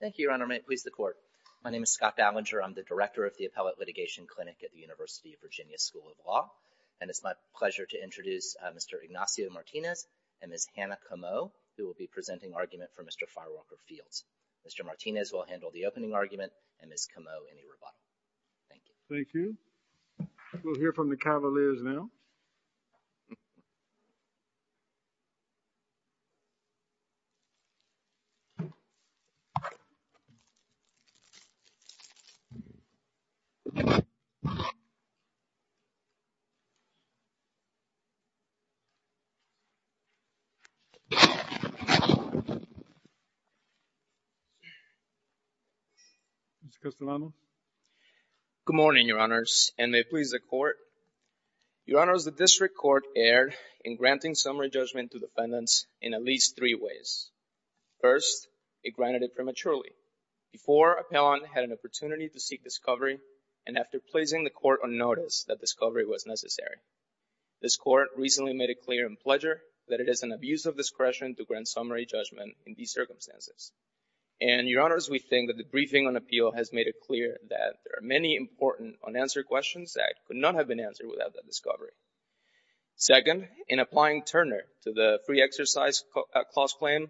Thank you, Your Honor. May it please the Court. My name is Scott Ballinger. I'm the Director of the Appellate Litigation Clinic at the University of Virginia School of Law. And it's my pleasure to introduce Mr. Ignacio Martinez and Ms. Hannah Comeau who will be presenting argument for Mr. Firewalker-Fields. Mr. Martinez will handle the opening argument and Ms. Comeau any rebuttal. Thank you. Thank you. We'll hear from the Cavaliers now. Mr. Castellano. First, it granted prematurely before appellant had an opportunity to seek discovery and after placing the Court on notice that discovery was necessary. This Court recently made it clear in Pledger that it is an abuse of discretion to grant summary judgment in these circumstances. And, Your Honors, we think that the briefing on appeal has made it clear that there are many important unanswered questions that could not have been answered without that discovery. Second, in applying Turner to the Free Exercise Clause claim,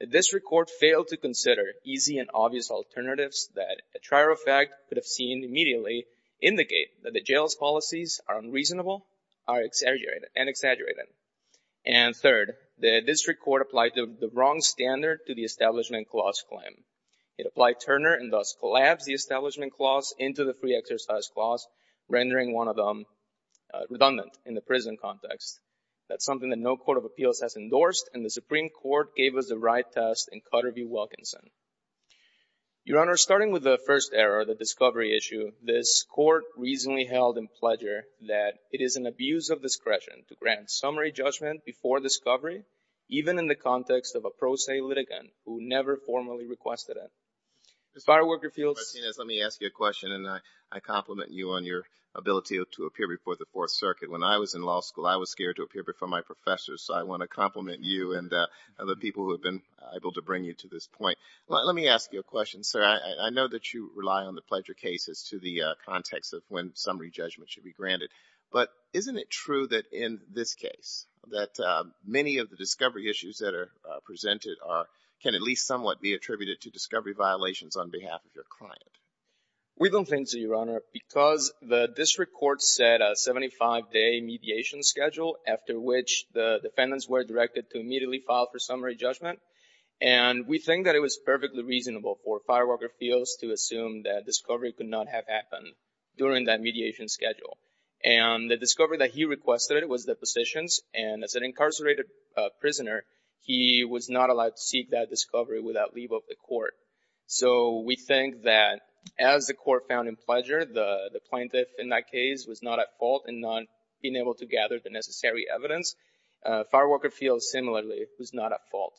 the District Court failed to consider easy and obvious alternatives that a trier of fact could have seen immediately indicate that the jail's policies are unreasonable and exaggerated. And third, the District Court applied the wrong standard to the Establishment Clause claim. It applied Turner and thus collapsed the Establishment Clause into the Free Exercise Clause, rendering one of them redundant in the prison context. That's something that no Court of Appeals has endorsed and the Supreme Court gave us the right test in Cutter v. Wilkinson. Your Honors, starting with the first error, the discovery issue, this Court recently held in Pledger that it is an abuse of discretion to grant summary judgment before discovery, even in the context of a pro se litigant who never formally requested it. Fireworker Fields. Mr. Martinez, let me ask you a question and I compliment you on your ability to appear before the Fourth Circuit. When I was in law school, I was scared to appear before my professors, so I want to compliment you and the people who have been able to bring you to this point. Let me ask you a question, sir. I know that you rely on the Pledger case as to the context of when summary judgment should be granted. But isn't it true that in this case, that many of the discovery issues that are presented can at least somewhat be attributed to discovery violations on behalf of your client? We don't think so, Your Honor, because the district court set a 75-day mediation schedule after which the defendants were directed to immediately file for summary judgment. And we think that it was perfectly reasonable for Fireworker Fields to assume that discovery could not have happened during that mediation schedule. And the discovery that he requested was the positions, and as an incarcerated prisoner, he was not allowed to seek that discovery without leave of the court. So we think that as the court found in Pledger, the plaintiff in that case was not at fault in not being able to gather the necessary evidence. Fireworker Fields, similarly, was not at fault.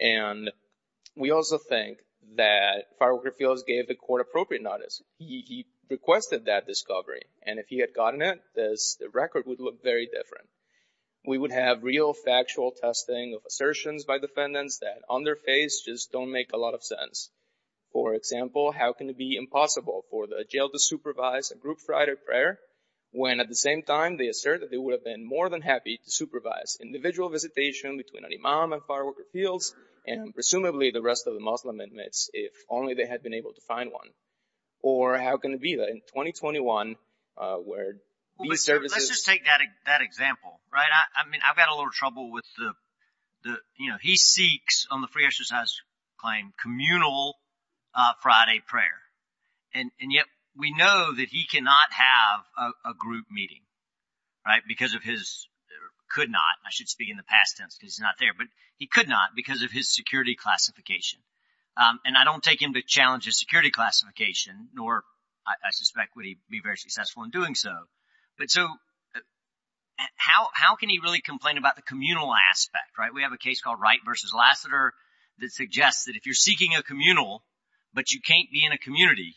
And we also think that Fireworker Fields gave the court appropriate notice. He requested that discovery. And if he had gotten it, the record would look very different. We would have real factual testing of assertions by defendants that on their face just don't make a lot of sense. For example, how can it be impossible for the jail to supervise a group Friday prayer when at the same time they assert that they would have been more than happy to supervise individual visitation between an imam and Fireworker Fields and presumably the rest of the Muslim inmates if only they had been able to find one? Or how can it be that in 2021 where these services— Let's just take that example, right? I mean, I've got a little trouble with the—you know, he seeks on the free exercise claim communal Friday prayer. And yet we know that he cannot have a group meeting, right, because of his—could not. I should speak in the past tense because he's not there, but he could not because of his security classification. And I don't take him to challenge his security classification, nor I suspect would he be very successful in doing so. But so how can he really complain about the communal aspect, right? We have a case called Wright v. Lassiter that suggests that if you're seeking a communal but you can't be in a community,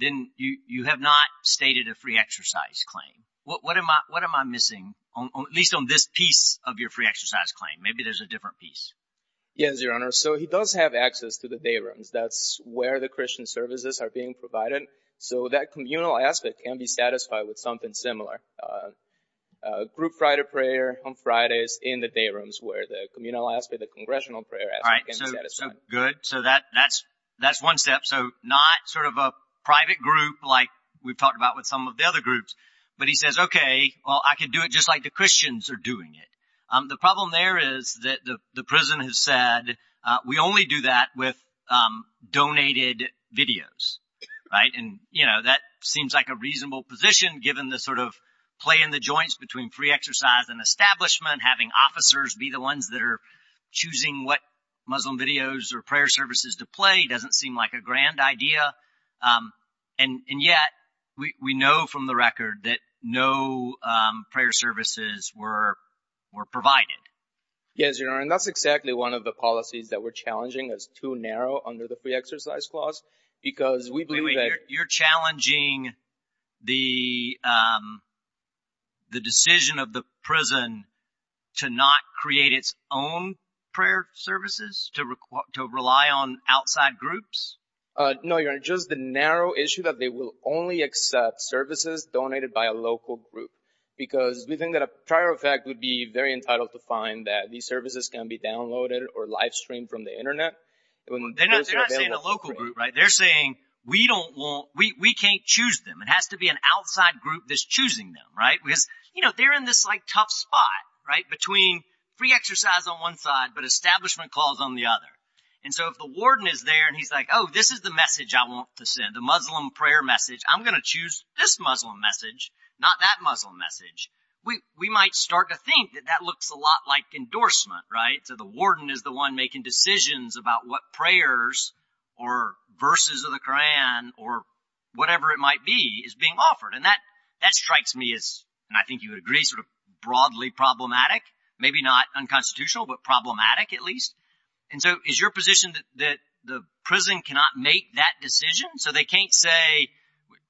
then you have not stated a free exercise claim. What am I missing, at least on this piece of your free exercise claim? Maybe there's a different piece. Yes, Your Honor. So he does have access to the day rooms. That's where the Christian services are being provided. So that communal aspect can be satisfied with something similar. Group Friday prayer on Fridays in the day rooms where the communal aspect, the congressional prayer aspect can be satisfied. All right. So good. So that's one step. So not sort of a private group like we've talked about with some of the other groups. But he says, OK, well, I can do it just like the Christians are doing it. The problem there is that the prison has said we only do that with donated videos. Right. And, you know, that seems like a reasonable position given the sort of play in the joints between free exercise and establishment. Having officers be the ones that are choosing what Muslim videos or prayer services to play doesn't seem like a grand idea. And yet we know from the record that no prayer services were provided. Yes, Your Honor. And that's exactly one of the policies that we're challenging is too narrow under the free exercise clause because we believe that. You're challenging the decision of the prison to not create its own prayer services, to rely on outside groups? No, Your Honor. Just the narrow issue that they will only accept services donated by a local group, because we think that a prior effect would be very entitled to find that these services can be downloaded or live streamed from the Internet. They're not saying a local group. Right. They're saying we don't want we can't choose them. It has to be an outside group that's choosing them. Right. Because, you know, they're in this like tough spot right between free exercise on one side, but establishment calls on the other. And so if the warden is there and he's like, oh, this is the message I want to send the Muslim prayer message, I'm going to choose this Muslim message, not that Muslim message. We might start to think that that looks a lot like endorsement. Right. So the warden is the one making decisions about what prayers or verses of the Koran or whatever it might be is being offered. And that that strikes me as and I think you would agree sort of broadly problematic, maybe not unconstitutional, but problematic at least. And so is your position that the prison cannot make that decision? So they can't say,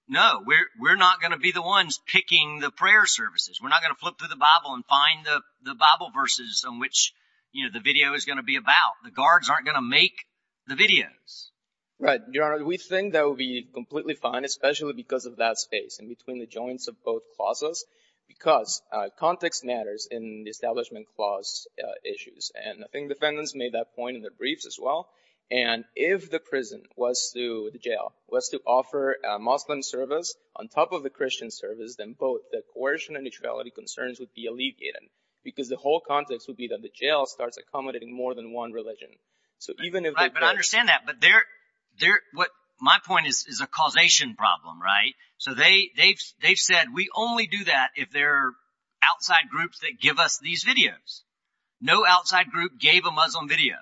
no, we're not going to be the ones picking the prayer services. We're not going to flip through the Bible and find the Bible verses on which, you know, the video is going to be about. The guards aren't going to make the videos. Right. We think that would be completely fine, especially because of that space in between the joints of both clauses, because context matters in the establishment clause issues. And I think defendants made that point in their briefs as well. And if the prison was to the jail was to offer a Muslim service on top of the Christian service, then both the coercion and neutrality concerns would be alleviated because the whole context would be that the jail starts accommodating more than one religion. So even if I understand that, but they're there, what my point is, is a causation problem. Right. So they they've they've said we only do that if they're outside groups that give us these videos. No outside group gave a Muslim video.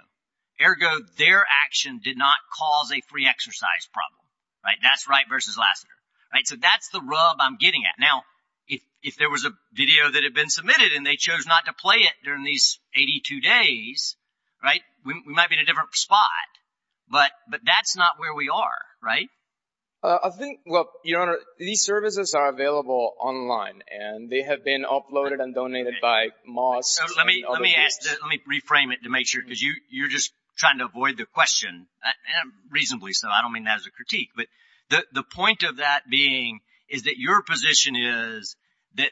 Ergo, their action did not cause a free exercise problem. Right. That's right. Versus Lassiter. Right. So that's the rub I'm getting at now. If there was a video that had been submitted and they chose not to play it during these 82 days. Right. We might be in a different spot. But but that's not where we are. Right. I think. Well, your honor, these services are available online and they have been uploaded and donated by Moss. Let me let me ask. Let me reframe it to make sure because you you're just trying to avoid the question reasonably. So I don't mean that as a critique, but the point of that being is that your position is that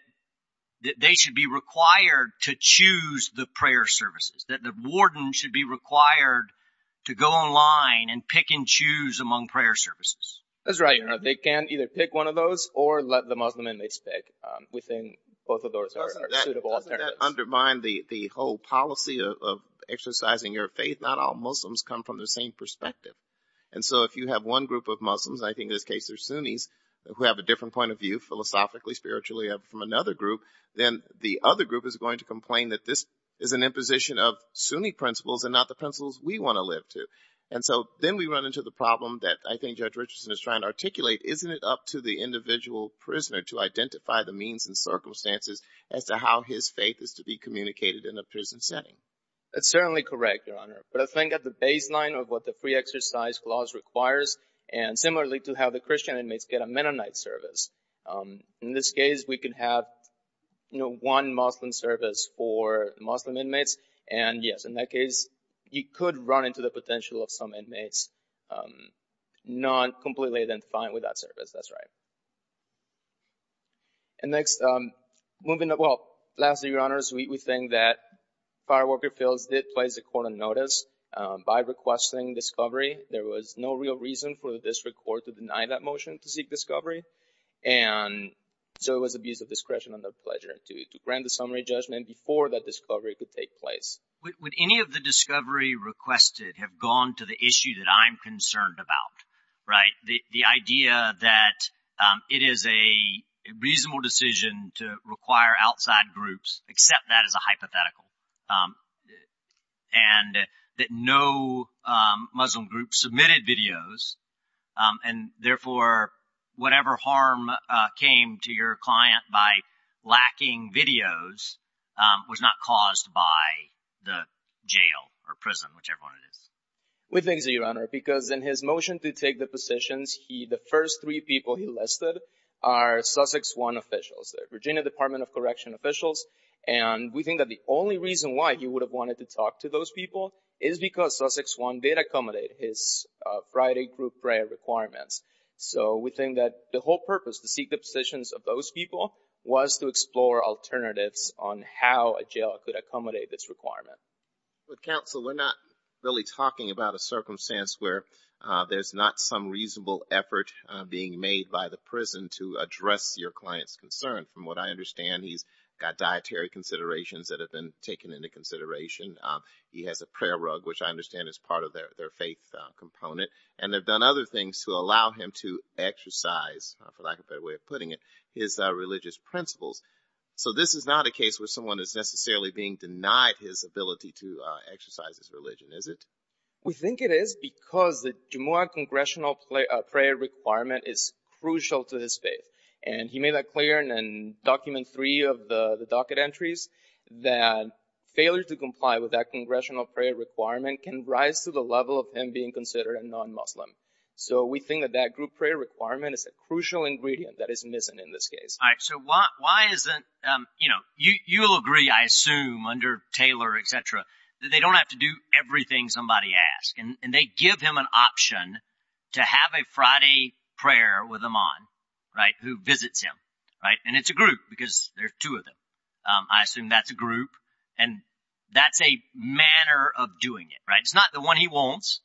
that they should be required to choose the prayer services, that the warden should be required to go online and pick and choose among prayer services. That's right. They can either pick one of those or let the Muslim in. They speak within both of those are suitable. That undermine the whole policy of exercising your faith. Not all Muslims come from the same perspective. And so if you have one group of Muslims, I think in this case, they're Sunnis who have a different point of view philosophically, spiritually from another group, then the other group is going to complain that this is an imposition of Sunni principles and not the principles we want to live to. And so then we run into the problem that I think Judge Richardson is trying to articulate. Isn't it up to the individual prisoner to identify the means and circumstances as to how his faith is to be communicated in a prison setting? That's certainly correct, your honor. But I think at the baseline of what the free exercise clause requires and similarly to how the Christian inmates get a Mennonite service. In this case, we can have, you know, one Muslim service for Muslim inmates. And yes, in that case, you could run into the potential of some inmates not completely identifying with that service. That's right. And next, moving up. Well, lastly, your honors, we think that firework fields did place a court of notice by requesting discovery. There was no real reason for the district court to deny that motion to seek discovery. And so it was abuse of discretion under pleasure to grant the summary judgment before that discovery could take place. Would any of the discovery requested have gone to the issue that I'm concerned about? Right. The idea that it is a reasonable decision to require outside groups accept that as a hypothetical and that no Muslim groups submitted videos. And therefore, whatever harm came to your client by lacking videos was not caused by the jail or prison, whichever one it is. We think so, your honor, because in his motion to take the positions, he the first three people he listed are Sussex one officials, the Virginia Department of Correction officials. And we think that the only reason why he would have wanted to talk to those people is because Sussex one did accommodate his Friday group prayer requirements. So we think that the whole purpose to seek the positions of those people was to explore alternatives on how a jail could accommodate this requirement. But counsel, we're not really talking about a circumstance where there's not some reasonable effort being made by the prison to address your client's concern. From what I understand, he's got dietary considerations that have been taken into consideration. He has a prayer rug, which I understand is part of their faith component. And they've done other things to allow him to exercise, for lack of a better way of putting it, his religious principles. So this is not a case where someone is necessarily being denied his ability to exercise his religion, is it? We think it is because the congressional prayer requirement is crucial to his faith. And he made that clear in document three of the docket entries that failure to comply with that congressional prayer requirement can rise to the level of him being considered a non-Muslim. So we think that that group prayer requirement is a crucial ingredient that is missing in this case. All right, so why isn't, you know, you'll agree, I assume, under Taylor, etc., that they don't have to do everything somebody asks. And they give him an option to have a Friday prayer with Iman, right, who visits him. And it's a group because there are two of them. I assume that's a group. And that's a manner of doing it, right? It's not the one he wants,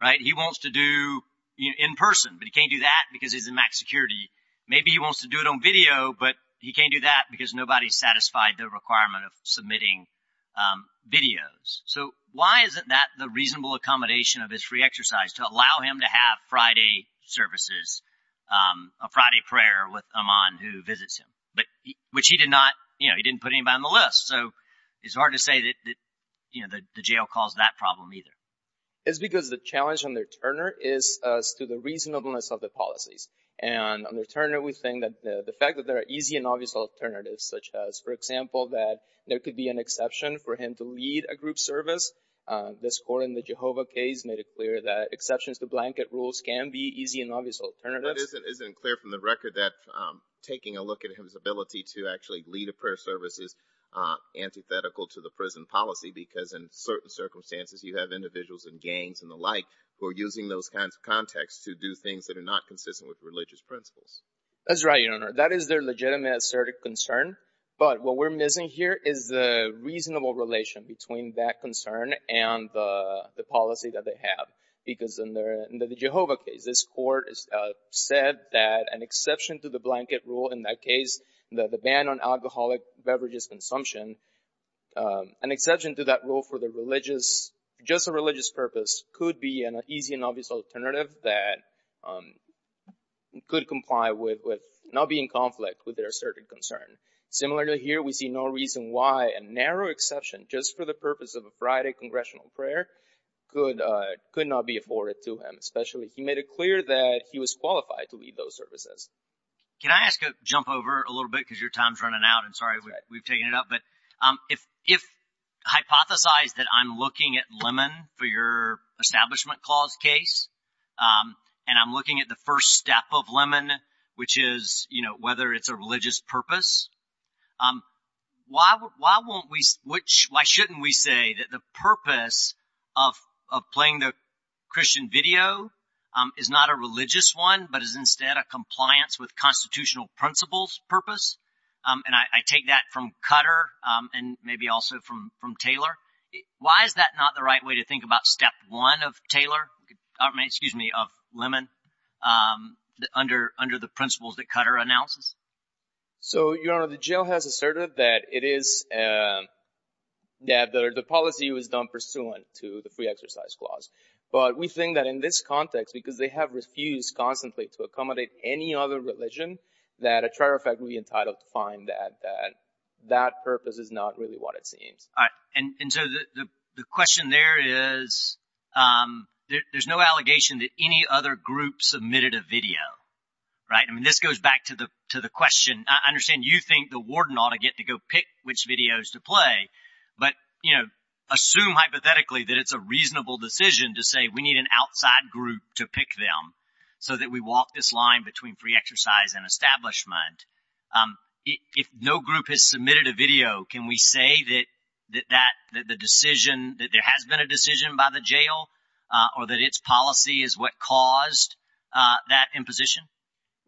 right? He wants to do in person, but he can't do that because he's in max security. Maybe he wants to do it on video, but he can't do that because nobody satisfied the requirement of submitting videos. So why isn't that the reasonable accommodation of his free exercise to allow him to have Friday services, a Friday prayer with Iman who visits him? But which he did not, you know, he didn't put anybody on the list. So it's hard to say that, you know, the jail caused that problem either. It's because the challenge under Turner is to the reasonableness of the policies. And under Turner, we think that the fact that there are easy and obvious alternatives, such as, for example, that there could be an exception for him to lead a group service. This court in the Jehovah case made it clear that exceptions to blanket rules can be easy and obvious alternatives. It isn't clear from the record that taking a look at his ability to actually lead a prayer service is antithetical to the prison policy because in certain circumstances you have individuals and gangs and the like who are using those kinds of contexts to do things that are not consistent with religious principles. That's right, Your Honor. That is their legitimate, assertive concern. But what we're missing here is the reasonable relation between that concern and the policy that they have. Because in the Jehovah case, this court said that an exception to the blanket rule in that case, the ban on alcoholic beverages consumption, an exception to that rule for just a religious purpose could be an easy and obvious alternative that could comply with not being in conflict with their assertive concern. Similarly here, we see no reason why a narrow exception just for the purpose of a Friday congressional prayer could not be afforded to him, especially. He made it clear that he was qualified to lead those services. Can I jump over a little bit because your time's running out and sorry we've taken it up. But if hypothesized that I'm looking at Lemon for your establishment clause case and I'm looking at the first step of Lemon, which is, you know, whether it's a religious purpose. Why won't we, why shouldn't we say that the purpose of playing the Christian video is not a religious one, but is instead a compliance with constitutional principles purpose? And I take that from Cutter and maybe also from Taylor. Why is that not the right way to think about step one of Taylor, excuse me, of Lemon under the principles that Cutter announces? So, you know, the jail has asserted that it is that the policy was done pursuant to the free exercise clause. But we think that in this context, because they have refused constantly to accommodate any other religion, that a trial effect will be entitled to find that that purpose is not really what it seems. And so the question there is there's no allegation that any other group submitted a video. Right. I mean, this goes back to the to the question. I understand you think the warden ought to get to go pick which videos to play. But, you know, assume hypothetically that it's a reasonable decision to say we need an outside group to pick them so that we walk this line between free exercise and establishment. If no group has submitted a video, can we say that that the decision that there has been a decision by the jail or that its policy is what caused that imposition?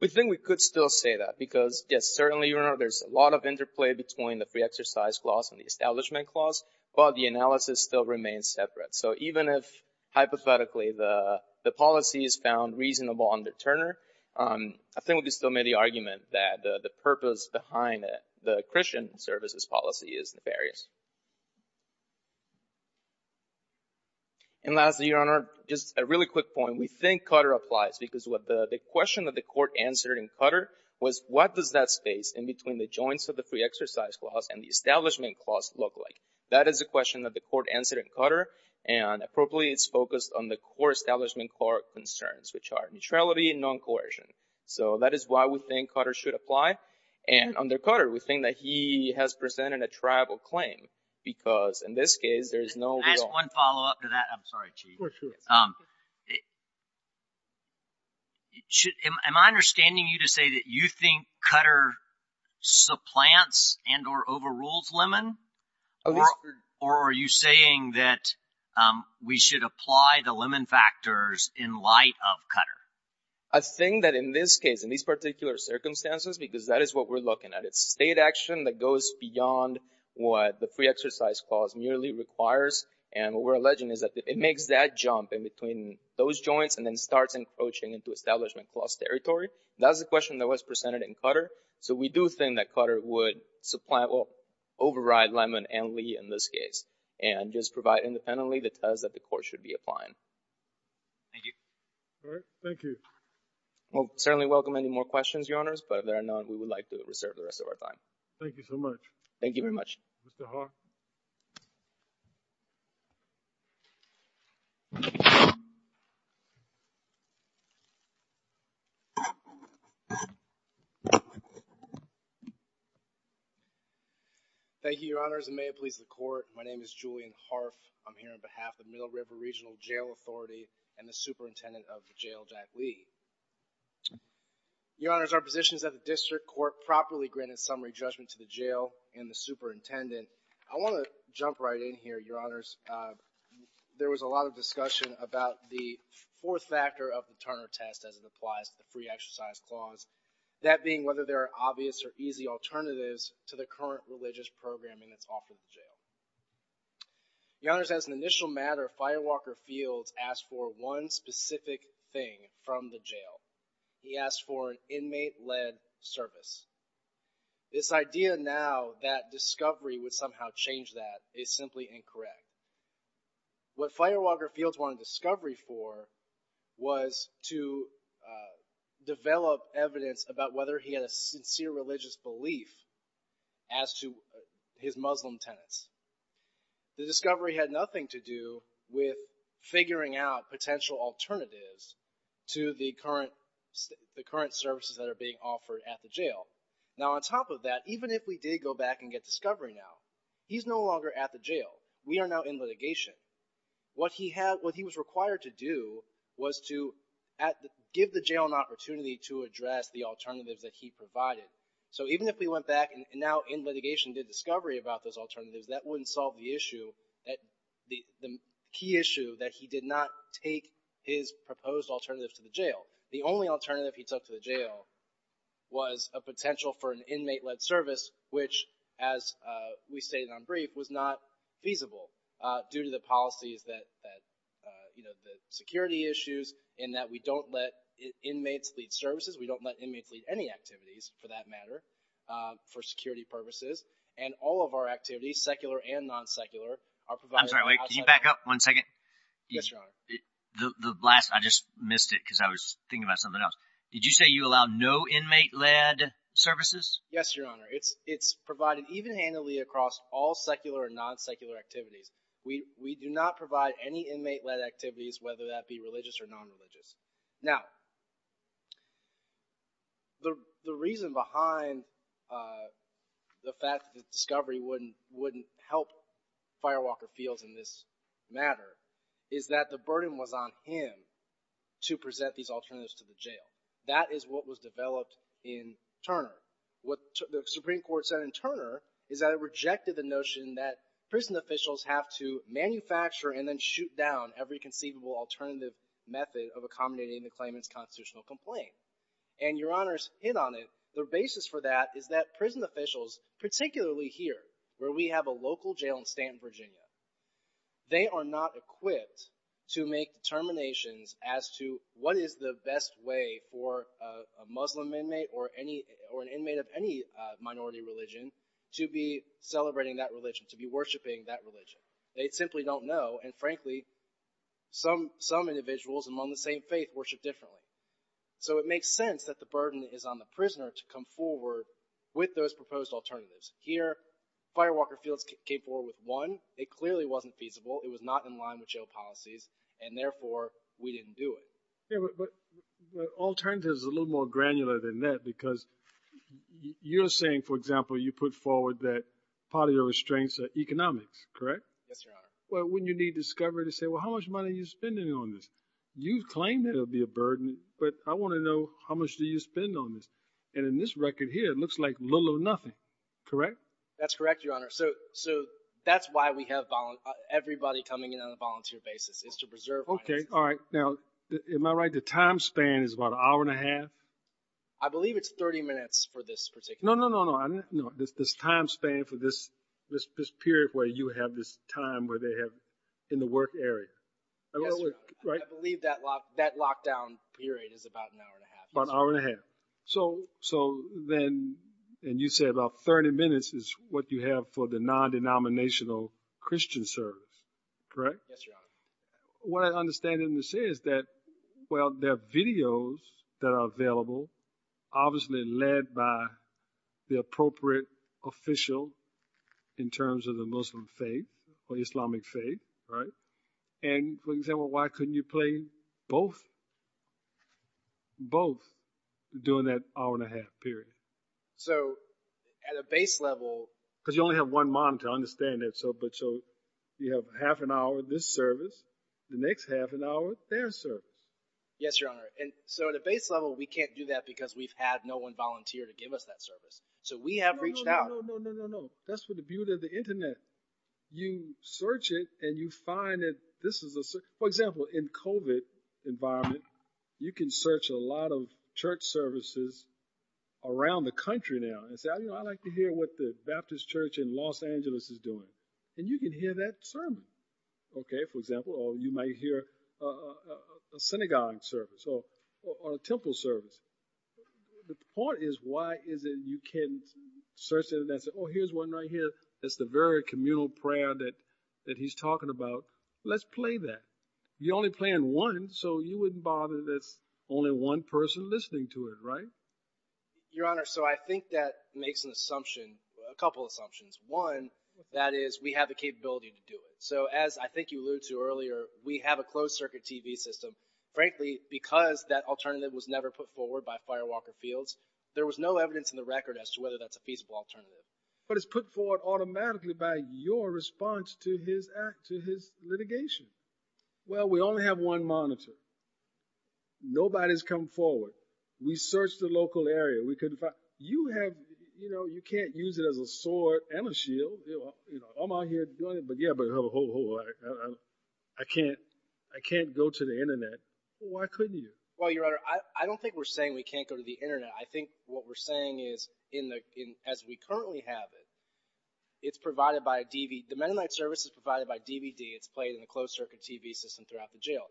We think we could still say that because, yes, certainly there's a lot of interplay between the free exercise clause and the establishment clause. But the analysis still remains separate. So even if hypothetically the policy is found reasonable under Turner, I think we could still make the argument that the purpose behind the Christian services policy is nefarious. And lastly, Your Honor, just a really quick point. We think Cutter applies because what the question that the court answered in Cutter was what does that space in between the joints of the free exercise clause and the establishment clause look like? That is a question that the court answered in Cutter. And appropriately, it's focused on the core establishment court concerns, which are neutrality and non-coercion. So that is why we think Cutter should apply. And under Cutter, we think that he has presented a triable claim because in this case, there is no— Can I ask one follow-up to that? I'm sorry, Chief. Am I understanding you to say that you think Cutter supplants and or overrules Lemon? Or are you saying that we should apply the Lemon factors in light of Cutter? I think that in this case, in these particular circumstances, because that is what we're looking at. It's state action that goes beyond what the free exercise clause merely requires. And what we're alleging is that it makes that jump in between those joints and then starts encroaching into establishment clause territory. So we do think that Cutter would supply or override Lemon and Lee in this case. And just provide independently the test that the court should be applying. Thank you. All right. Thank you. We'll certainly welcome any more questions, Your Honors. But if there are none, we would like to reserve the rest of our time. Thank you very much. Mr. Haw. Thank you, Your Honors. And may it please the court, my name is Julian Harf. I'm here on behalf of Middle River Regional Jail Authority and the superintendent of the jail, Jack Lee. Your Honors, our positions at the district court properly granted summary judgment to the jail and the superintendent. I want to jump right in here, Your Honors. There was a lot of discussion about the fourth factor of the Turner test as it applies to the free exercise clause. That being whether there are obvious or easy alternatives to the current religious programming that's offered in jail. Your Honors, as an initial matter, Firewalker Fields asked for one specific thing from the jail. He asked for an inmate-led service. This idea now that discovery would somehow change that is simply incorrect. What Firewalker Fields wanted discovery for was to develop evidence about whether he had a sincere religious belief as to his Muslim tenants. The discovery had nothing to do with figuring out potential alternatives to the current services that are being offered at the jail. Now on top of that, even if we did go back and get discovery now, he's no longer at the jail. We are now in litigation. What he was required to do was to give the jail an opportunity to address the alternatives that he provided. So even if we went back and now in litigation did discovery about those alternatives, that wouldn't solve the key issue that he did not take his proposed alternatives to the jail. The only alternative he took to the jail was a potential for an inmate-led service, which, as we stated on brief, was not feasible due to the policies that – the security issues and that we don't let inmates lead services. We don't let inmates lead any activities for that matter for security purposes, and all of our activities, secular and non-secular, are provided – I'm sorry. Wait. Can you back up one second? Yes, Your Honor. The last – I just missed it because I was thinking about something else. Did you say you allow no inmate-led services? Yes, Your Honor. It's provided even handily across all secular and non-secular activities. We do not provide any inmate-led activities, whether that be religious or non-religious. Now, the reason behind the fact that discovery wouldn't help Firewalker Fields in this matter is that the burden was on him to present these alternatives to the jail. That is what was developed in Turner. What the Supreme Court said in Turner is that it rejected the notion that prison officials have to manufacture and then shoot down every conceivable alternative method of accommodating the claimant's constitutional complaint. And Your Honor's hit on it. The basis for that is that prison officials, particularly here where we have a local jail in Stanton, Virginia, they are not equipped to make determinations as to what is the best way for a Muslim inmate or an inmate of any minority religion to be celebrating that religion, to be worshiping that religion. They simply don't know, and frankly, some individuals among the same faith worship differently. So it makes sense that the burden is on the prisoner to come forward with those proposed alternatives. Here, Firewalker Fields came forward with one. It clearly wasn't feasible. It was not in line with jail policies, and therefore, we didn't do it. Yeah, but the alternative is a little more granular than that because you're saying, for example, you put forward that part of your restraints are economics, correct? Yes, Your Honor. Well, wouldn't you need discovery to say, well, how much money are you spending on this? You claim that it would be a burden, but I want to know how much do you spend on this? And in this record here, it looks like little or nothing, correct? That's correct, Your Honor. So that's why we have everybody coming in on a volunteer basis is to preserve money. Okay, all right. Now, am I right the time span is about an hour and a half? I believe it's 30 minutes for this particular. No, no, no, no, no. This time span for this period where you have this time where they have in the work area. Yes, Your Honor. I believe that lockdown period is about an hour and a half. About an hour and a half. So then, and you say about 30 minutes is what you have for the non-denominational Christian service, correct? Yes, Your Honor. What I understand in this is that, well, there are videos that are available, obviously led by the appropriate official in terms of the Muslim faith or Islamic faith, right? And for example, why couldn't you play both, both during that hour and a half period? So at a base level. Because you only have one mom to understand that. So, but so you have half an hour, this service, the next half an hour, their service. Yes, Your Honor. And so at a base level, we can't do that because we've had no one volunteer to give us that service. So we have reached out. No, no, no, no, no. That's what the beauty of the Internet. You search it and you find it. This is, for example, in COVID environment, you can search a lot of church services around the country now and say, I like to hear what the Baptist Church in Los Angeles is doing. And you can hear that sermon. OK, for example, or you might hear a synagogue service or a temple service. The point is, why is it you can search it and say, oh, here's one right here. That's the very communal prayer that that he's talking about. Let's play that. You're only playing one. So you wouldn't bother. That's only one person listening to it, right? Your Honor, so I think that makes an assumption, a couple of assumptions. One, that is, we have the capability to do it. So as I think you alluded to earlier, we have a closed circuit TV system. Frankly, because that alternative was never put forward by Firewalker Fields, there was no evidence in the record as to whether that's a feasible alternative. But it's put forward automatically by your response to his act, to his litigation. Well, we only have one monitor. Nobody's come forward. We searched the local area. You can't use it as a sword and a shield. I'm out here doing it, but yeah, but I can't go to the Internet. Why couldn't you? Well, your Honor, I don't think we're saying we can't go to the Internet. I think what we're saying is, as we currently have it, it's provided by a DVD. The Mennonite service is provided by DVD. It's played in a closed circuit TV system throughout the jail.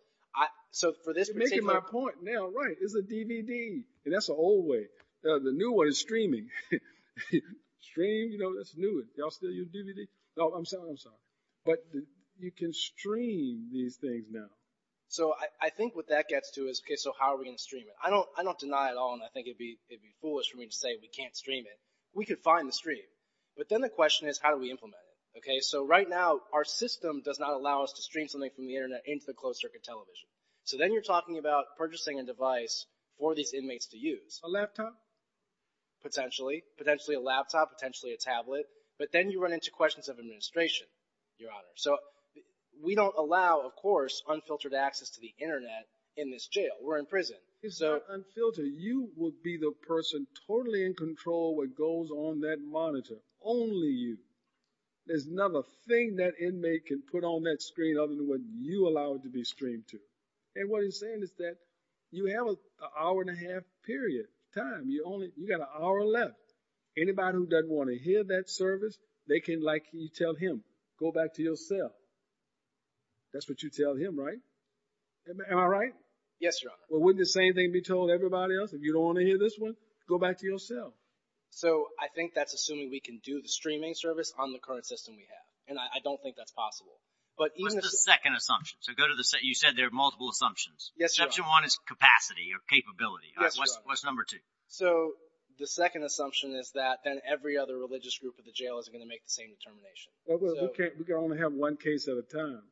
You're making my point now, right. It's a DVD, and that's the old way. The new one is streaming. Stream, you know, that's new. Y'all still use DVD? No, I'm sorry, I'm sorry. But you can stream these things now. So I think what that gets to is, okay, so how are we going to stream it? I don't deny at all, and I think it would be foolish for me to say we can't stream it. We could find the stream, but then the question is, how do we implement it? Okay, so right now, our system does not allow us to stream something from the Internet into the closed circuit television. So then you're talking about purchasing a device for these inmates to use. A laptop? Potentially. Potentially a laptop. Potentially a tablet. But then you run into questions of administration, your Honor. So we don't allow, of course, unfiltered access to the Internet in this jail. We're in prison. It's not unfiltered. You will be the person totally in control of what goes on that monitor. Only you. There's nothing that inmate can put on that screen other than what you allow it to be streamed to. And what he's saying is that you have an hour and a half period of time. You've got an hour left. Anybody who doesn't want to hear that service, they can, like you tell him, go back to your cell. That's what you tell him, right? Am I right? Yes, Your Honor. Well, wouldn't the same thing be told to everybody else? If you don't want to hear this one, go back to your cell. So I think that's assuming we can do the streaming service on the current system we have, and I don't think that's possible. What's the second assumption? You said there are multiple assumptions. Yes, Your Honor. Assumption one is capacity or capability. Yes, Your Honor. What's number two? So the second assumption is that then every other religious group in the jail isn't going to make the same determination. We can only have one case at a time.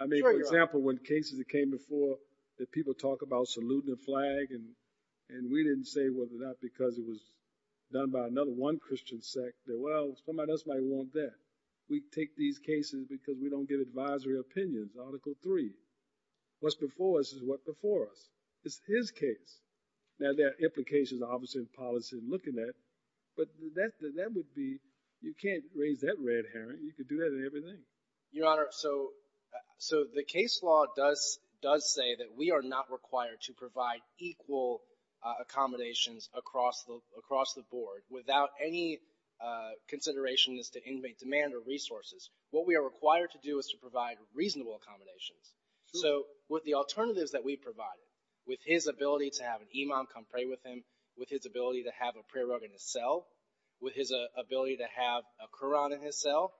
I mean, for example, when cases that came before that people talk about saluting a flag, and we didn't say whether or not because it was done by another one Christian sect, that, well, somebody else might want that. We take these cases because we don't give advisory opinions, Article III. What's before us is what's before us. It's his case. Now, there are implications of opposite policy in looking at it, but that would be, you can't raise that red herring. You could do that in everything. Your Honor, so the case law does say that we are not required to provide equal accommodations across the board without any consideration as to inmate demand or resources. What we are required to do is to provide reasonable accommodations. So with the alternatives that we've provided, with his ability to have an imam come pray with him, with his ability to have a prayer rug in his cell, with his ability to have a Quran in his cell,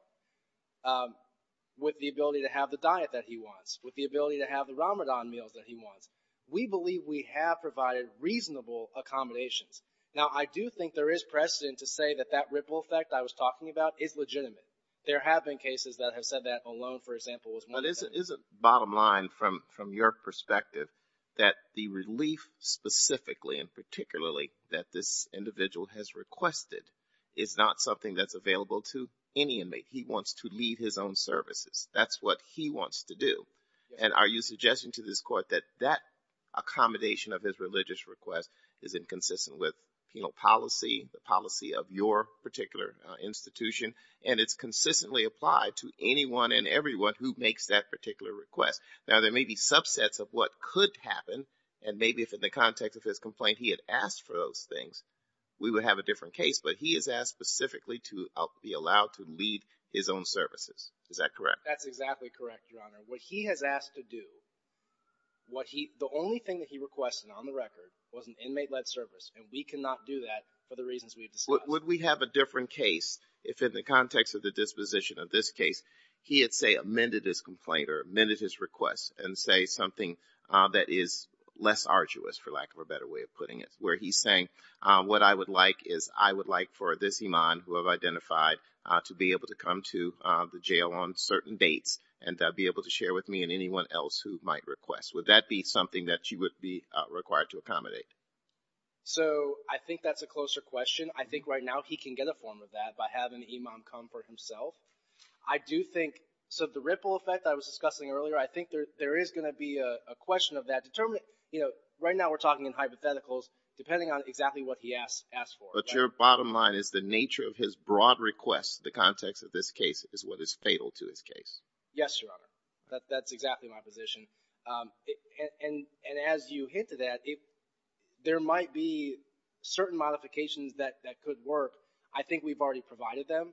with the ability to have the diet that he wants, with the ability to have the Ramadan meals that he wants, we believe we have provided reasonable accommodations. Now, I do think there is precedent to say that that ripple effect I was talking about is legitimate. There have been cases that have said that alone, for example, was one of them. But isn't bottom line from your perspective that the relief specifically and particularly that this individual has requested is not something that's available to any inmate? He wants to lead his own services. That's what he wants to do. And are you suggesting to this court that that accommodation of his religious request is inconsistent with penal policy, the policy of your particular institution, and it's consistently applied to anyone and everyone who makes that particular request? Now, there may be subsets of what could happen. And maybe if in the context of his complaint he had asked for those things, we would have a different case. But he has asked specifically to be allowed to lead his own services. Is that correct? That's exactly correct, Your Honor. What he has asked to do, the only thing that he requested on the record was an inmate-led service. And we cannot do that for the reasons we've discussed. So would we have a different case if in the context of the disposition of this case he had, say, amended his complaint or amended his request and say something that is less arduous, for lack of a better way of putting it, where he's saying what I would like is I would like for this imam who I've identified to be able to come to the jail on certain dates and be able to share with me and anyone else who might request. Would that be something that you would be required to accommodate? So I think that's a closer question. I think right now he can get a form of that by having the imam come for himself. I do think – so the ripple effect that I was discussing earlier, I think there is going to be a question of that. Right now we're talking in hypotheticals depending on exactly what he asked for. But your bottom line is the nature of his broad request in the context of this case is what is fatal to his case. Yes, Your Honor. That's exactly my position. And as you hinted at, there might be certain modifications that could work. I think we've already provided them.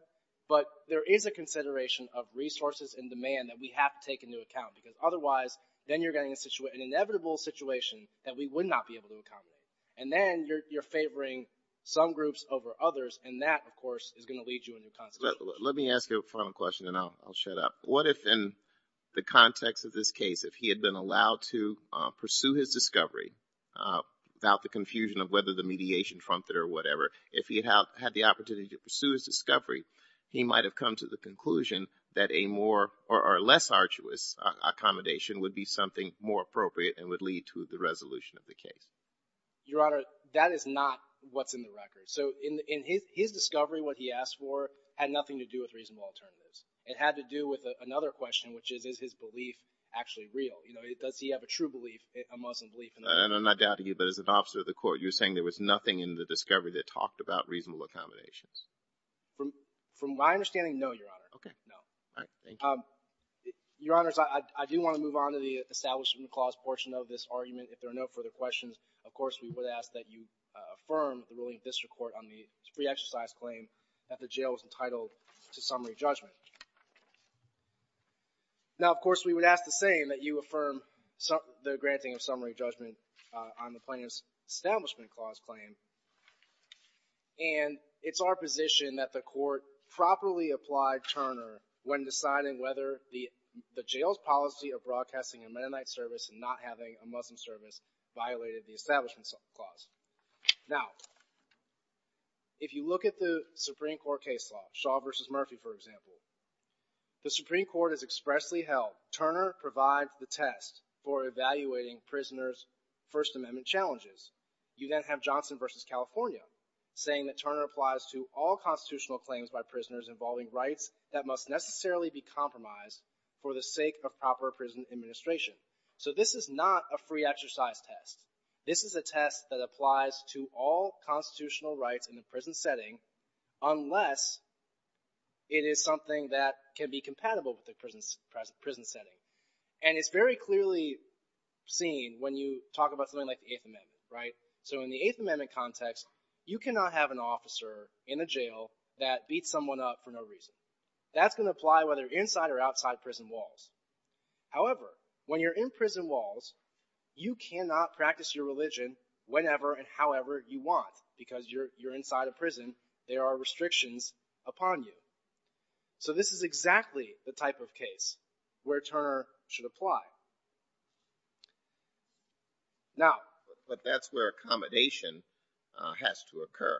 But there is a consideration of resources and demand that we have to take into account because otherwise then you're getting an inevitable situation that we would not be able to accommodate. And then you're favoring some groups over others, and that, of course, is going to lead you in your constitution. Let me ask you a final question and then I'll shut up. What if in the context of this case if he had been allowed to pursue his discovery without the confusion of whether the mediation trumped it or whatever, if he had the opportunity to pursue his discovery, he might have come to the conclusion that a more or less arduous accommodation would be something more appropriate and would lead to the resolution of the case? Your Honor, that is not what's in the record. So his discovery, what he asked for, had nothing to do with reasonable alternatives. It had to do with another question, which is, is his belief actually real? You know, does he have a true belief, a Muslim belief? And I doubt to you, but as an officer of the court, you're saying there was nothing in the discovery that talked about reasonable accommodations? From my understanding, no, Your Honor. Okay. No. All right. Thank you. Your Honors, I do want to move on to the establishment clause portion of this argument. If there are no further questions, of course, we would ask that you affirm the ruling of the District Court on the pre-exercise claim that the jail was entitled to summary judgment. Now, of course, we would ask the same, that you affirm the granting of summary judgment on the plaintiff's establishment clause claim. And it's our position that the court properly applied Turner when deciding whether the jail's policy of broadcasting a Mennonite service and not having a Muslim service violated the establishment clause. Now, if you look at the Supreme Court case law, Shaw v. Murphy, for example, the Supreme Court has expressly held Turner provides the test for evaluating prisoners' First Amendment challenges. You then have Johnson v. California saying that Turner applies to all constitutional claims by prisoners involving rights that must necessarily be compromised for the sake of proper prison administration. So this is not a free exercise test. This is a test that applies to all constitutional rights in the prison setting unless it is something that can be compatible with the prison setting. And it's very clearly seen when you talk about something like the Eighth Amendment, right? So in the Eighth Amendment context, you cannot have an officer in a jail that beats someone up for no reason. That's going to apply whether inside or outside prison walls. However, when you're in prison walls, you cannot practice your religion whenever and however you want because you're inside a prison. There are restrictions upon you. So this is exactly the type of case where Turner should apply. Now... But that's where accommodation has to occur.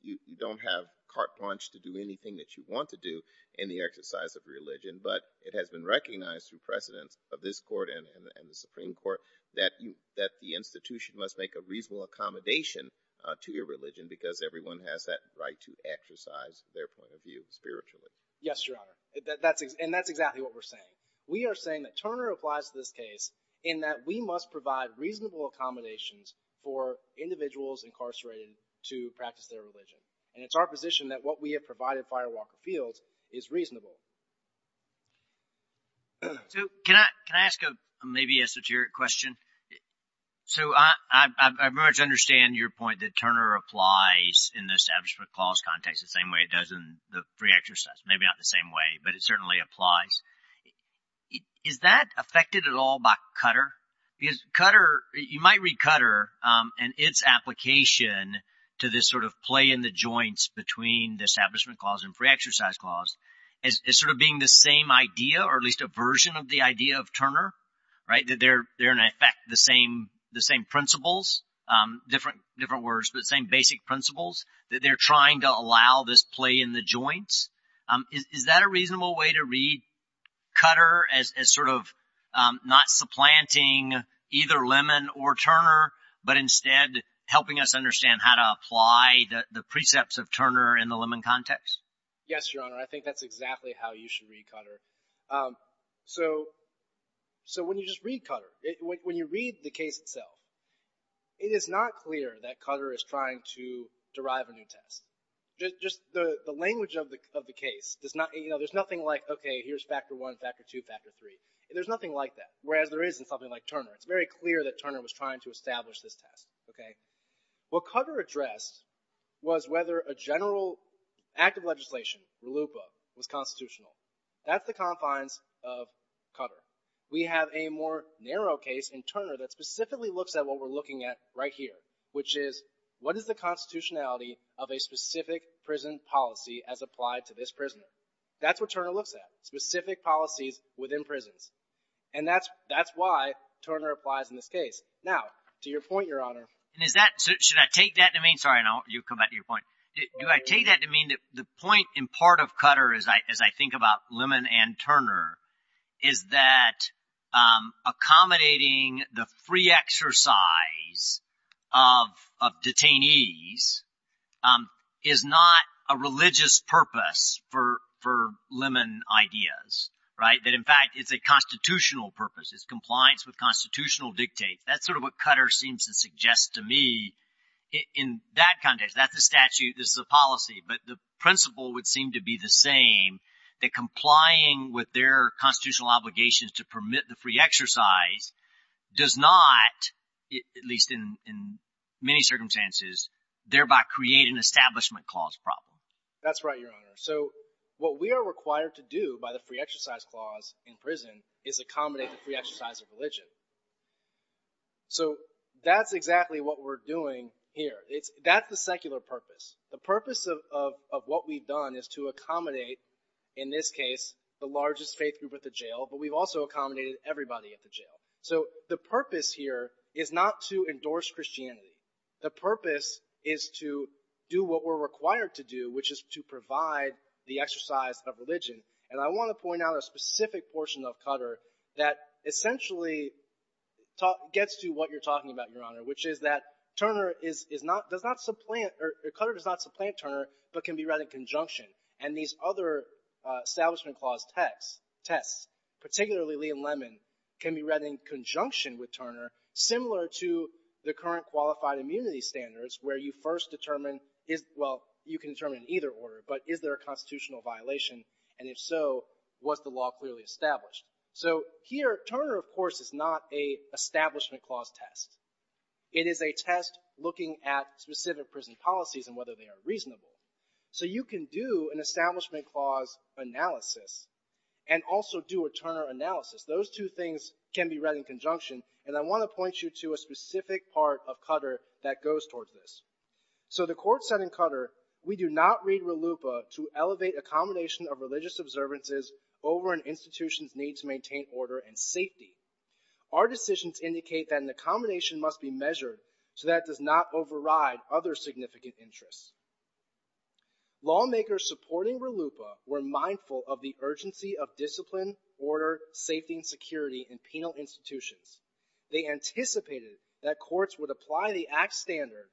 You don't have carte blanche to do anything that you want to do in the exercise of religion, but it has been recognized through precedence of this court and the Supreme Court that the institution must make a reasonable accommodation to your religion because everyone has that right to exercise their point of view spiritually. Yes, Your Honor. And that's exactly what we're saying. We are saying that Turner applies to this case in that we must provide reasonable accommodations for individuals incarcerated to practice their religion. And it's our position that what we have provided Firewalker Fields is reasonable. So can I ask maybe a satiric question? So I've learned to understand your point that Turner applies in the Establishment Clause context the same way it does in the free exercise. Maybe not the same way, but it certainly applies. Is that affected at all by Cutter? Because Cutter, you might read Cutter and its application to this sort of play in the joints between the Establishment Clause and free exercise clause as sort of being the same idea or at least a version of the idea of Turner, right? That they're in effect the same principles, different words, but the same basic principles that they're trying to allow this play in the joints. Is that a reasonable way to read Cutter as sort of not supplanting either Lemon or Turner, but instead helping us understand how to apply the precepts of Turner in the Lemon context? Yes, Your Honor. I think that's exactly how you should read Cutter. So when you just read Cutter, when you read the case itself, it is not clear that Cutter is trying to derive a new test. Just the language of the case does not, you know, there's nothing like, okay, here's factor one, factor two, factor three. It's very clear that Turner was trying to establish this test, okay? What Cutter addressed was whether a general act of legislation, RLUIPA, was constitutional. That's the confines of Cutter. We have a more narrow case in Turner that specifically looks at what we're looking at right here, which is what is the constitutionality of a specific prison policy as applied to this prisoner? That's what Turner looks at, specific policies within prisons. And that's why Turner applies in this case. Now, to your point, Your Honor. And is that, should I take that to mean, sorry, you come back to your point. Do I take that to mean that the point in part of Cutter, as I think about Lemon and Turner, is that accommodating the free exercise of detainees is not a religious purpose for Lemon ideas, right? That, in fact, it's a constitutional purpose. It's compliance with constitutional dictates. That's sort of what Cutter seems to suggest to me in that context. That's a statute. This is a policy. But the principle would seem to be the same, that complying with their constitutional obligations to permit the free exercise does not, at least in many circumstances, thereby create an establishment clause problem. That's right, Your Honor. So what we are required to do by the free exercise clause in prison is accommodate the free exercise of religion. So that's exactly what we're doing here. That's the secular purpose. The purpose of what we've done is to accommodate, in this case, the largest faith group at the jail, but we've also accommodated everybody at the jail. So the purpose here is not to endorse Christianity. The purpose is to do what we're required to do, which is to provide the exercise of religion. And I want to point out a specific portion of Cutter that essentially gets to what you're talking about, Your Honor, which is that Cutter does not supplant Turner but can be read in conjunction. And these other establishment clause tests, particularly Lee and Lemon, can be read in conjunction with Turner, similar to the current qualified immunity standards where you first determine, well, you can determine in either order, but is there a constitutional violation? And if so, was the law clearly established? So here, Turner, of course, is not a establishment clause test. It is a test looking at specific prison policies and whether they are reasonable. So you can do an establishment clause analysis and also do a Turner analysis. Those two things can be read in conjunction, and I want to point you to a specific part of Cutter that goes towards this. So the court said in Cutter, We do not read RLUIPA to elevate accommodation of religious observances over an institution's need to maintain order and safety. Our decisions indicate that an accommodation must be measured so that it does not override other significant interests. Lawmakers supporting RLUIPA were mindful of the urgency of discipline, order, safety, and security in penal institutions. They anticipated that courts would apply the Act's standard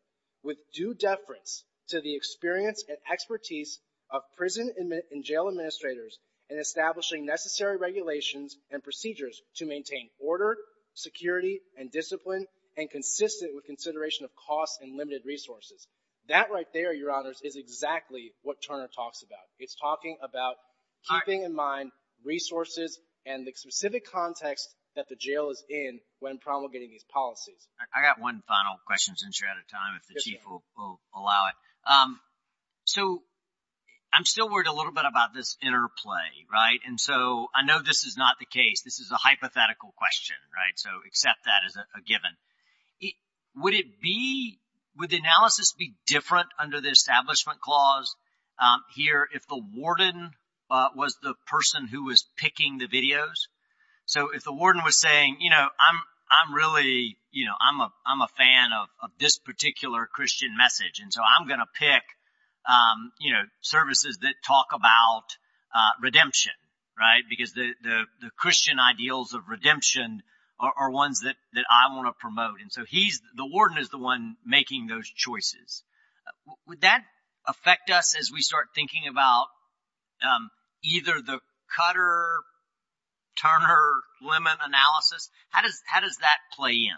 with due deference to the experience and expertise of prison and jail administrators in establishing necessary regulations and procedures to maintain order, security, and discipline, and consistent with consideration of costs and limited resources. That right there, Your Honors, is exactly what Turner talks about. It's talking about keeping in mind resources and the specific context that the jail is in when promulgating these policies. I got one final question since you're out of time, if the Chief will allow it. So I'm still worried a little bit about this interplay, right? And so I know this is not the case. This is a hypothetical question, right? So accept that as a given. Would the analysis be different under the Establishment Clause here if the warden was the person who was picking the videos? So if the warden was saying, you know, I'm really, you know, I'm a fan of this particular Christian message, and so I'm going to pick, you know, services that talk about redemption, right? Because the Christian ideals of redemption are ones that I want to promote. And so the warden is the one making those choices. Would that affect us as we start thinking about either the Cutter-Turner limit analysis? How does that play in?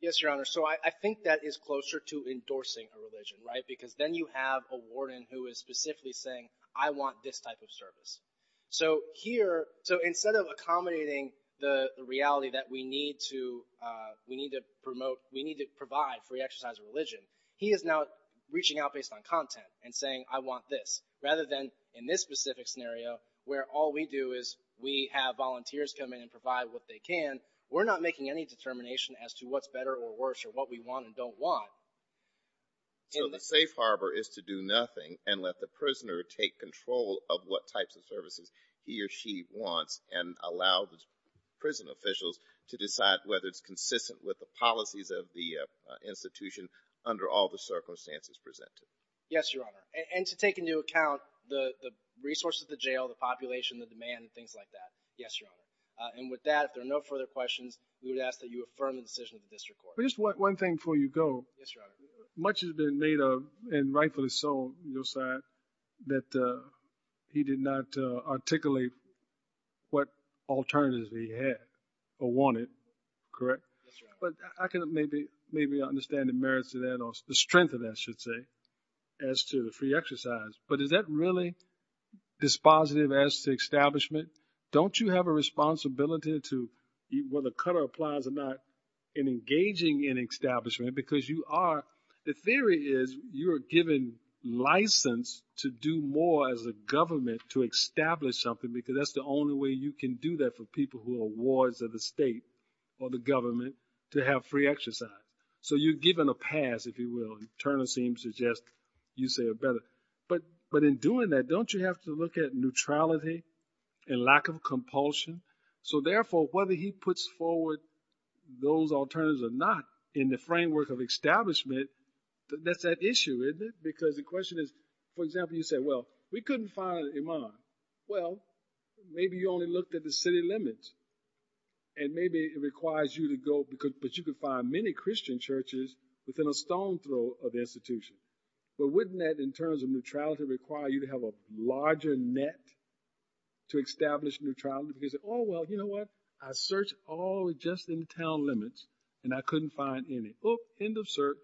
Yes, Your Honor. So I think that is closer to endorsing a religion, right? Because then you have a warden who is specifically saying, I want this type of service. So here, so instead of accommodating the reality that we need to promote, we need to provide free exercise of religion, he is now reaching out based on content and saying, I want this. Rather than in this specific scenario, where all we do is we have volunteers come in and provide what they can, we're not making any determination as to what's better or worse or what we want and don't want. So the safe harbor is to do nothing and let the prisoner take control of what types of services he or she wants and allow the prison officials to decide whether it's consistent with the policies of the institution under all the circumstances presented. Yes, Your Honor. And to take into account the resources, the jail, the population, the demand, and things like that. Yes, Your Honor. And with that, if there are no further questions, we would ask that you affirm the decision of the district court. Just one thing before you go. Yes, Your Honor. Much has been made of and rightfully so, your side, that he did not articulate what alternatives he had or wanted. Correct? Yes, Your Honor. But I can maybe understand the merits of that or the strength of that, I should say, as to the free exercise. But is that really dispositive as to establishment? Don't you have a responsibility to, whether color applies or not, in engaging in establishment? Because the theory is you are given license to do more as a government to establish something because that's the only way you can do that for people who are wards of the state or the government to have free exercise. So you're given a pass, if you will. Turner seems to suggest you say it better. But in doing that, don't you have to look at neutrality and lack of compulsion? So, therefore, whether he puts forward those alternatives or not in the framework of establishment, that's at issue, isn't it? Because the question is, for example, you say, well, we couldn't find Iman. Well, maybe you only looked at the city limits. And maybe it requires you to go, but you could find many Christian churches within a stone's throw of the institution. But wouldn't that, in terms of neutrality, require you to have a larger net to establish neutrality? Because, oh, well, you know what? I searched all just in town limits, and I couldn't find any. End of search.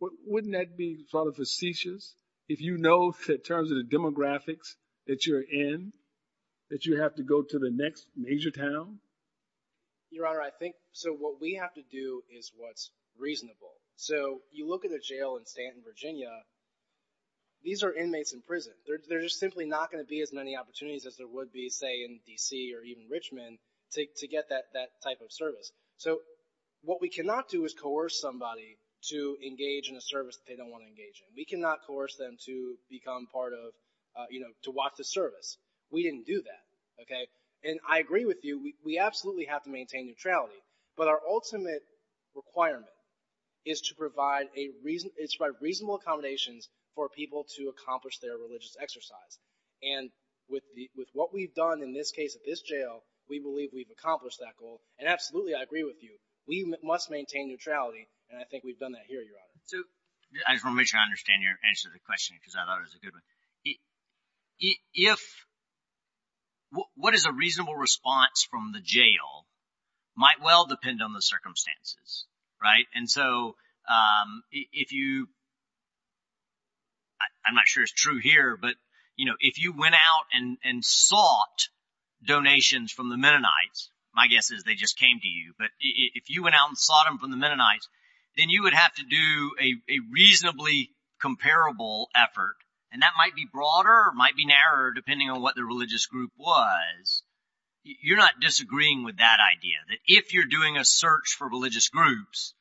Wouldn't that be sort of facetious? If you know, in terms of the demographics that you're in, that you have to go to the next major town? Your Honor, I think so what we have to do is what's reasonable. These are inmates in prison. There's simply not going to be as many opportunities as there would be, say, in D.C. or even Richmond to get that type of service. So what we cannot do is coerce somebody to engage in a service that they don't want to engage in. We cannot coerce them to become part of, you know, to watch the service. We didn't do that, okay? And I agree with you. We absolutely have to maintain neutrality. But our ultimate requirement is to provide reasonable accommodations for people to accomplish their religious exercise. And with what we've done in this case at this jail, we believe we've accomplished that goal. And absolutely, I agree with you. We must maintain neutrality, and I think we've done that here, Your Honor. So I just want to make sure I understand your answer to the question because I thought it was a good one. If – what is a reasonable response from the jail might well depend on the circumstances, right? And so if you – I'm not sure it's true here, but, you know, if you went out and sought donations from the Mennonites, my guess is they just came to you. But if you went out and sought them from the Mennonites, then you would have to do a reasonably comparable effort, and that might be broader or might be narrower depending on what the religious group was. You're not disagreeing with that idea, that if you're doing a search for religious groups,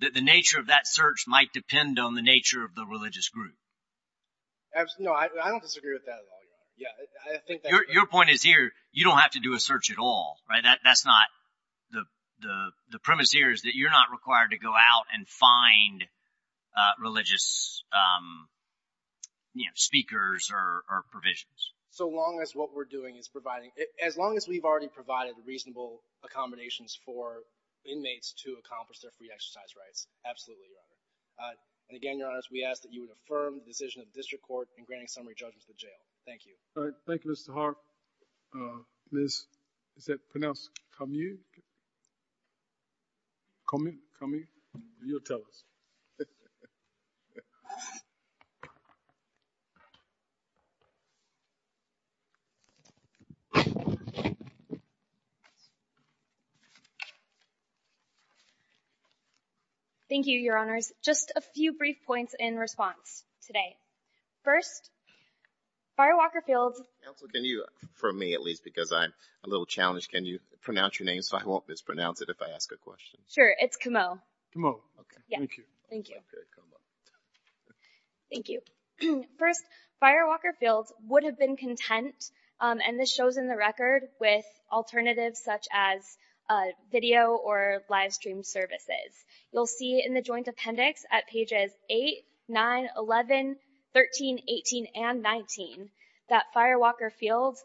that the nature of that search might depend on the nature of the religious group? No, I don't disagree with that at all, Your Honor. Your point is here, you don't have to do a search at all, right? That's not – the premise here is that you're not required to go out and find religious speakers or provisions. So long as what we're doing is providing – for inmates to accomplish their free exercise rights, absolutely, Your Honor. And again, Your Honor, we ask that you would affirm the decision of the district court in granting summary judgment to the jail. Thank you. All right, thank you, Mr. Hart. Ms. – is that pronounced come-you? Come-you? Come-you? You'll tell us. Thank you, Your Honors. Just a few brief points in response today. First, Firewalker Fields – Counsel, can you – for me, at least, because I'm a little challenged, can you pronounce your name so I won't mispronounce it if I ask a question? Sure, it's Comeau. Comeau. Okay, thank you. Thank you. Thank you. First, Firewalker Fields would have been content, and this shows in the record, with alternatives such as video or livestream services. You'll see in the joint appendix at pages 8, 9, 11, 13, 18, and 19 that Firewalker Fields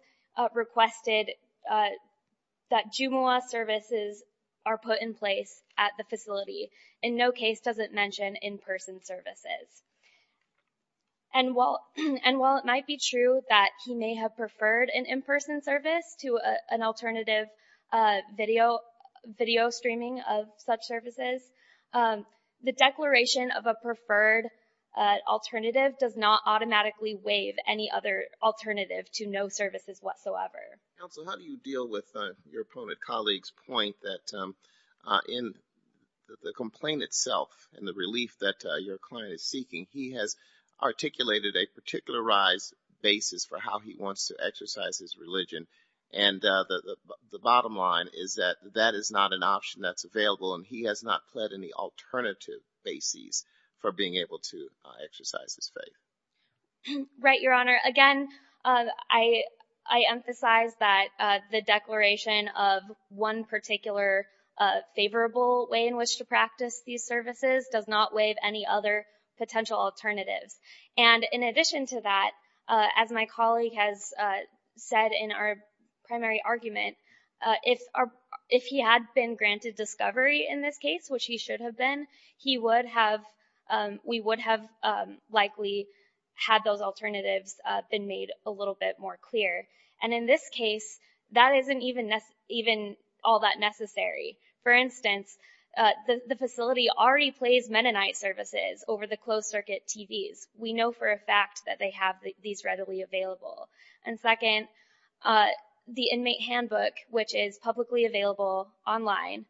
requested that Jumu'ah services are put in place at the facility, and no case doesn't mention in-person services. And while it might be true that he may have preferred an in-person service to an alternative video streaming of such services, the declaration of a preferred alternative does not automatically waive any other alternative to no services whatsoever. Counsel, how do you deal with your opponent colleague's point that in the complaint itself and the relief that your client is seeking, he has articulated a particularized basis for how he wants to exercise his religion, and the bottom line is that that is not an option that's available, and he has not pled any alternative basis for being able to exercise his faith. Right, Your Honor. Again, I emphasize that the declaration of one particular favorable way in which to practice these services does not waive any other potential alternatives. And in addition to that, as my colleague has said in our primary argument, if he had been granted discovery in this case, which he should have been, we would have likely had those alternatives been made a little bit more clear. And in this case, that isn't even all that necessary. For instance, the facility already plays Mennonite services over the closed-circuit TVs. We know for a fact that they have these readily available. And second, the inmate handbook, which is publicly available online,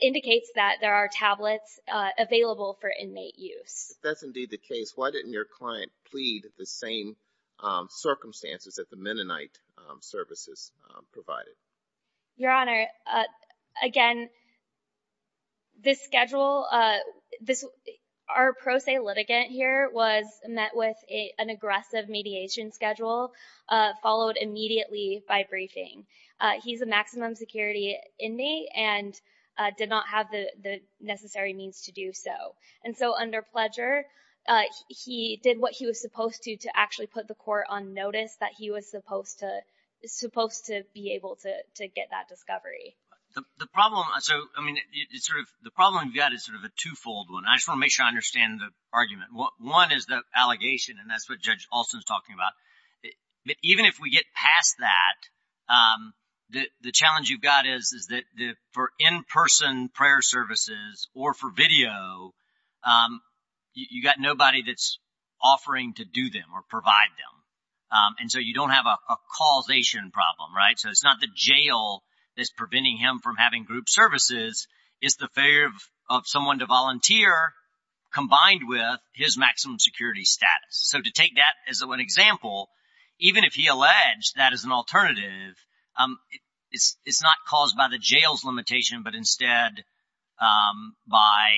indicates that there are tablets available for inmate use. If that's indeed the case, why didn't your client plead the same circumstances that the Mennonite services provided? Your Honor, again, this schedule, our pro se litigant here was met with an aggressive mediation schedule, followed immediately by briefing. He's a maximum security inmate and did not have the necessary means to do so. And so under pledger, he did what he was supposed to to actually put the court on notice that he was supposed to be able to get that discovery. The problem you've got is sort of a twofold one. I just want to make sure I understand the argument. One is the allegation, and that's what Judge Alston is talking about. Even if we get past that, the challenge you've got is that for in-person prayer services or for video, you've got nobody that's offering to do them or provide them. And so you don't have a causation problem, right? So it's not the jail that's preventing him from having group services. It's the failure of someone to volunteer combined with his maximum security status. So to take that as an example, even if he alleged that as an alternative, it's not caused by the jail's limitation, but instead by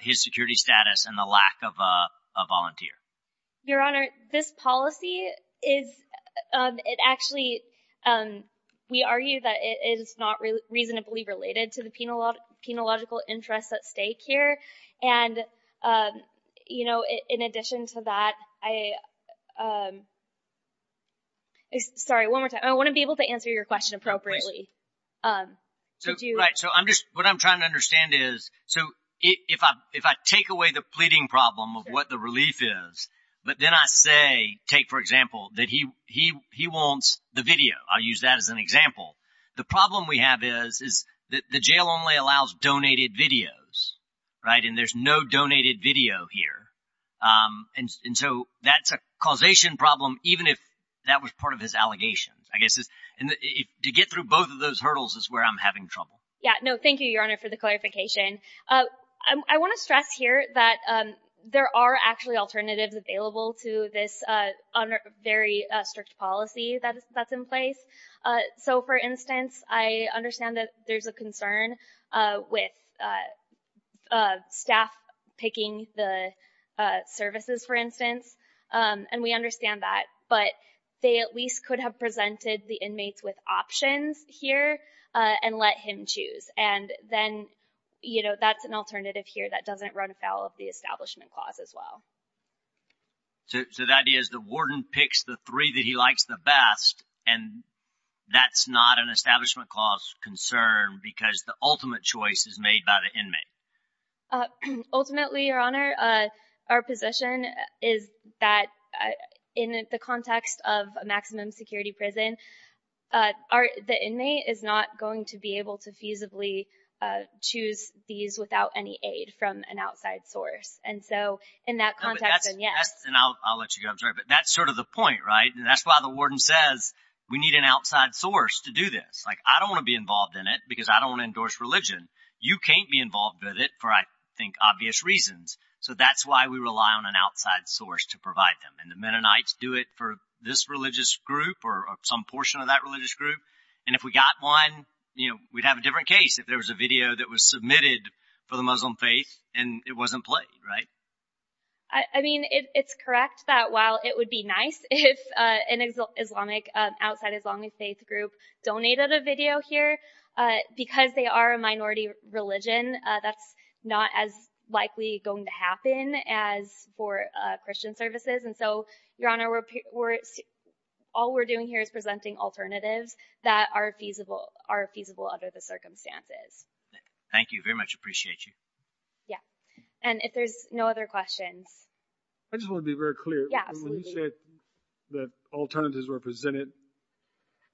his security status and the lack of a volunteer. Your Honor, this policy is, it actually, we argue that it is not reasonably related to the penological interests at stake here. And, you know, in addition to that, I, sorry, one more time. I want to be able to answer your question appropriately. Right, so I'm just, what I'm trying to understand is, so if I take away the pleading problem of what the relief is, but then I say, take for example, that he wants the video. I'll use that as an example. The problem we have is that the jail only allows donated videos, right? And there's no donated video here. And so that's a causation problem, even if that was part of his allegations, I guess. And to get through both of those hurdles is where I'm having trouble. Yeah, no, thank you, Your Honor, for the clarification. I want to stress here that there are actually alternatives available to this very strict policy that's in place. So, for instance, I understand that there's a concern with staff picking the services, for instance. And we understand that. But they at least could have presented the inmates with options here and let him choose. And then, you know, that's an alternative here that doesn't run afoul of the Establishment Clause as well. So the idea is the warden picks the three that he likes the best, and that's not an Establishment Clause concern because the ultimate choice is made by the inmate. Ultimately, Your Honor, our position is that in the context of a maximum security prison, the inmate is not going to be able to feasibly choose these without any aid from an outside source. And so in that context, then, yes. And I'll let you go. I'm sorry. But that's sort of the point, right? And that's why the warden says we need an outside source to do this. Like, I don't want to be involved in it because I don't want to endorse religion. You can't be involved with it for, I think, obvious reasons. So that's why we rely on an outside source to provide them. And the Mennonites do it for this religious group or some portion of that religious group. And if we got one, you know, we'd have a different case if there was a video that was submitted for the Muslim faith and it wasn't played, right? I mean, it's correct that while it would be nice if an Islamic, outside Islamic faith group donated a video here, because they are a minority religion, that's not as likely going to happen as for Christian services. And so, Your Honor, all we're doing here is presenting alternatives that are feasible under the circumstances. Thank you very much. Appreciate you. Yeah. And if there's no other questions. I just want to be very clear. When you said that alternatives were presented,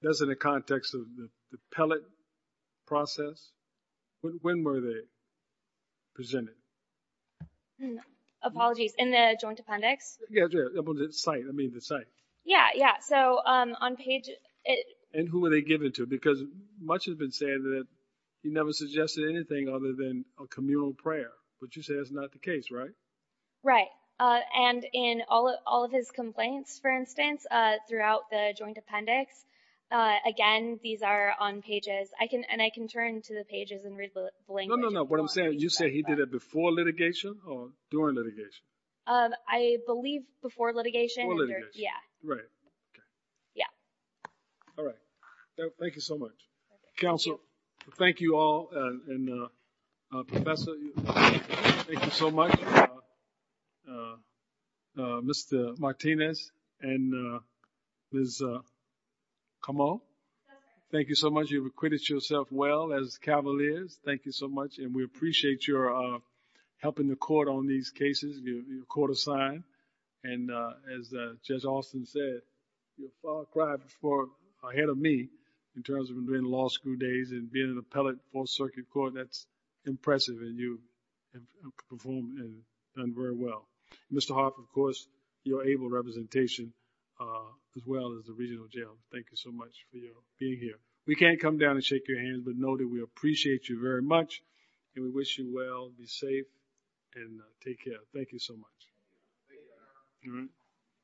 that's in the context of the pellet process. When were they presented? Apologies. In the joint appendix? Yeah, the site. I mean, the site. Yeah, yeah. So on page... And who were they given to? Because much has been said that he never suggested anything other than a communal prayer. But you said it's not the case, right? Right. And in all of his complaints, for instance, throughout the joint appendix, again, these are on pages. And I can turn to the pages and read the language. No, no, no. What I'm saying is you said he did it before litigation or during litigation? I believe before litigation. Before litigation. Yeah. Right. Yeah. All right. Thank you so much. Counsel, thank you all. And Professor, thank you so much. Mr. Martinez and Ms. Comeau. Thank you so much. You've acquitted yourself well as cavaliers. Thank you so much. And we appreciate your helping the court on these cases. You're court assigned. And as Judge Alston said, you're far ahead of me in terms of doing law school days and being an appellate fourth circuit court. That's impressive. And you've performed and done very well. Mr. Hoff, of course, you're able representation as well as the regional jail. Thank you so much for being here. We can't come down and shake your hand, but know that we appreciate you very much and we wish you well. Be safe and take care. Thank you so much. Thank you. Thank you. Thank you.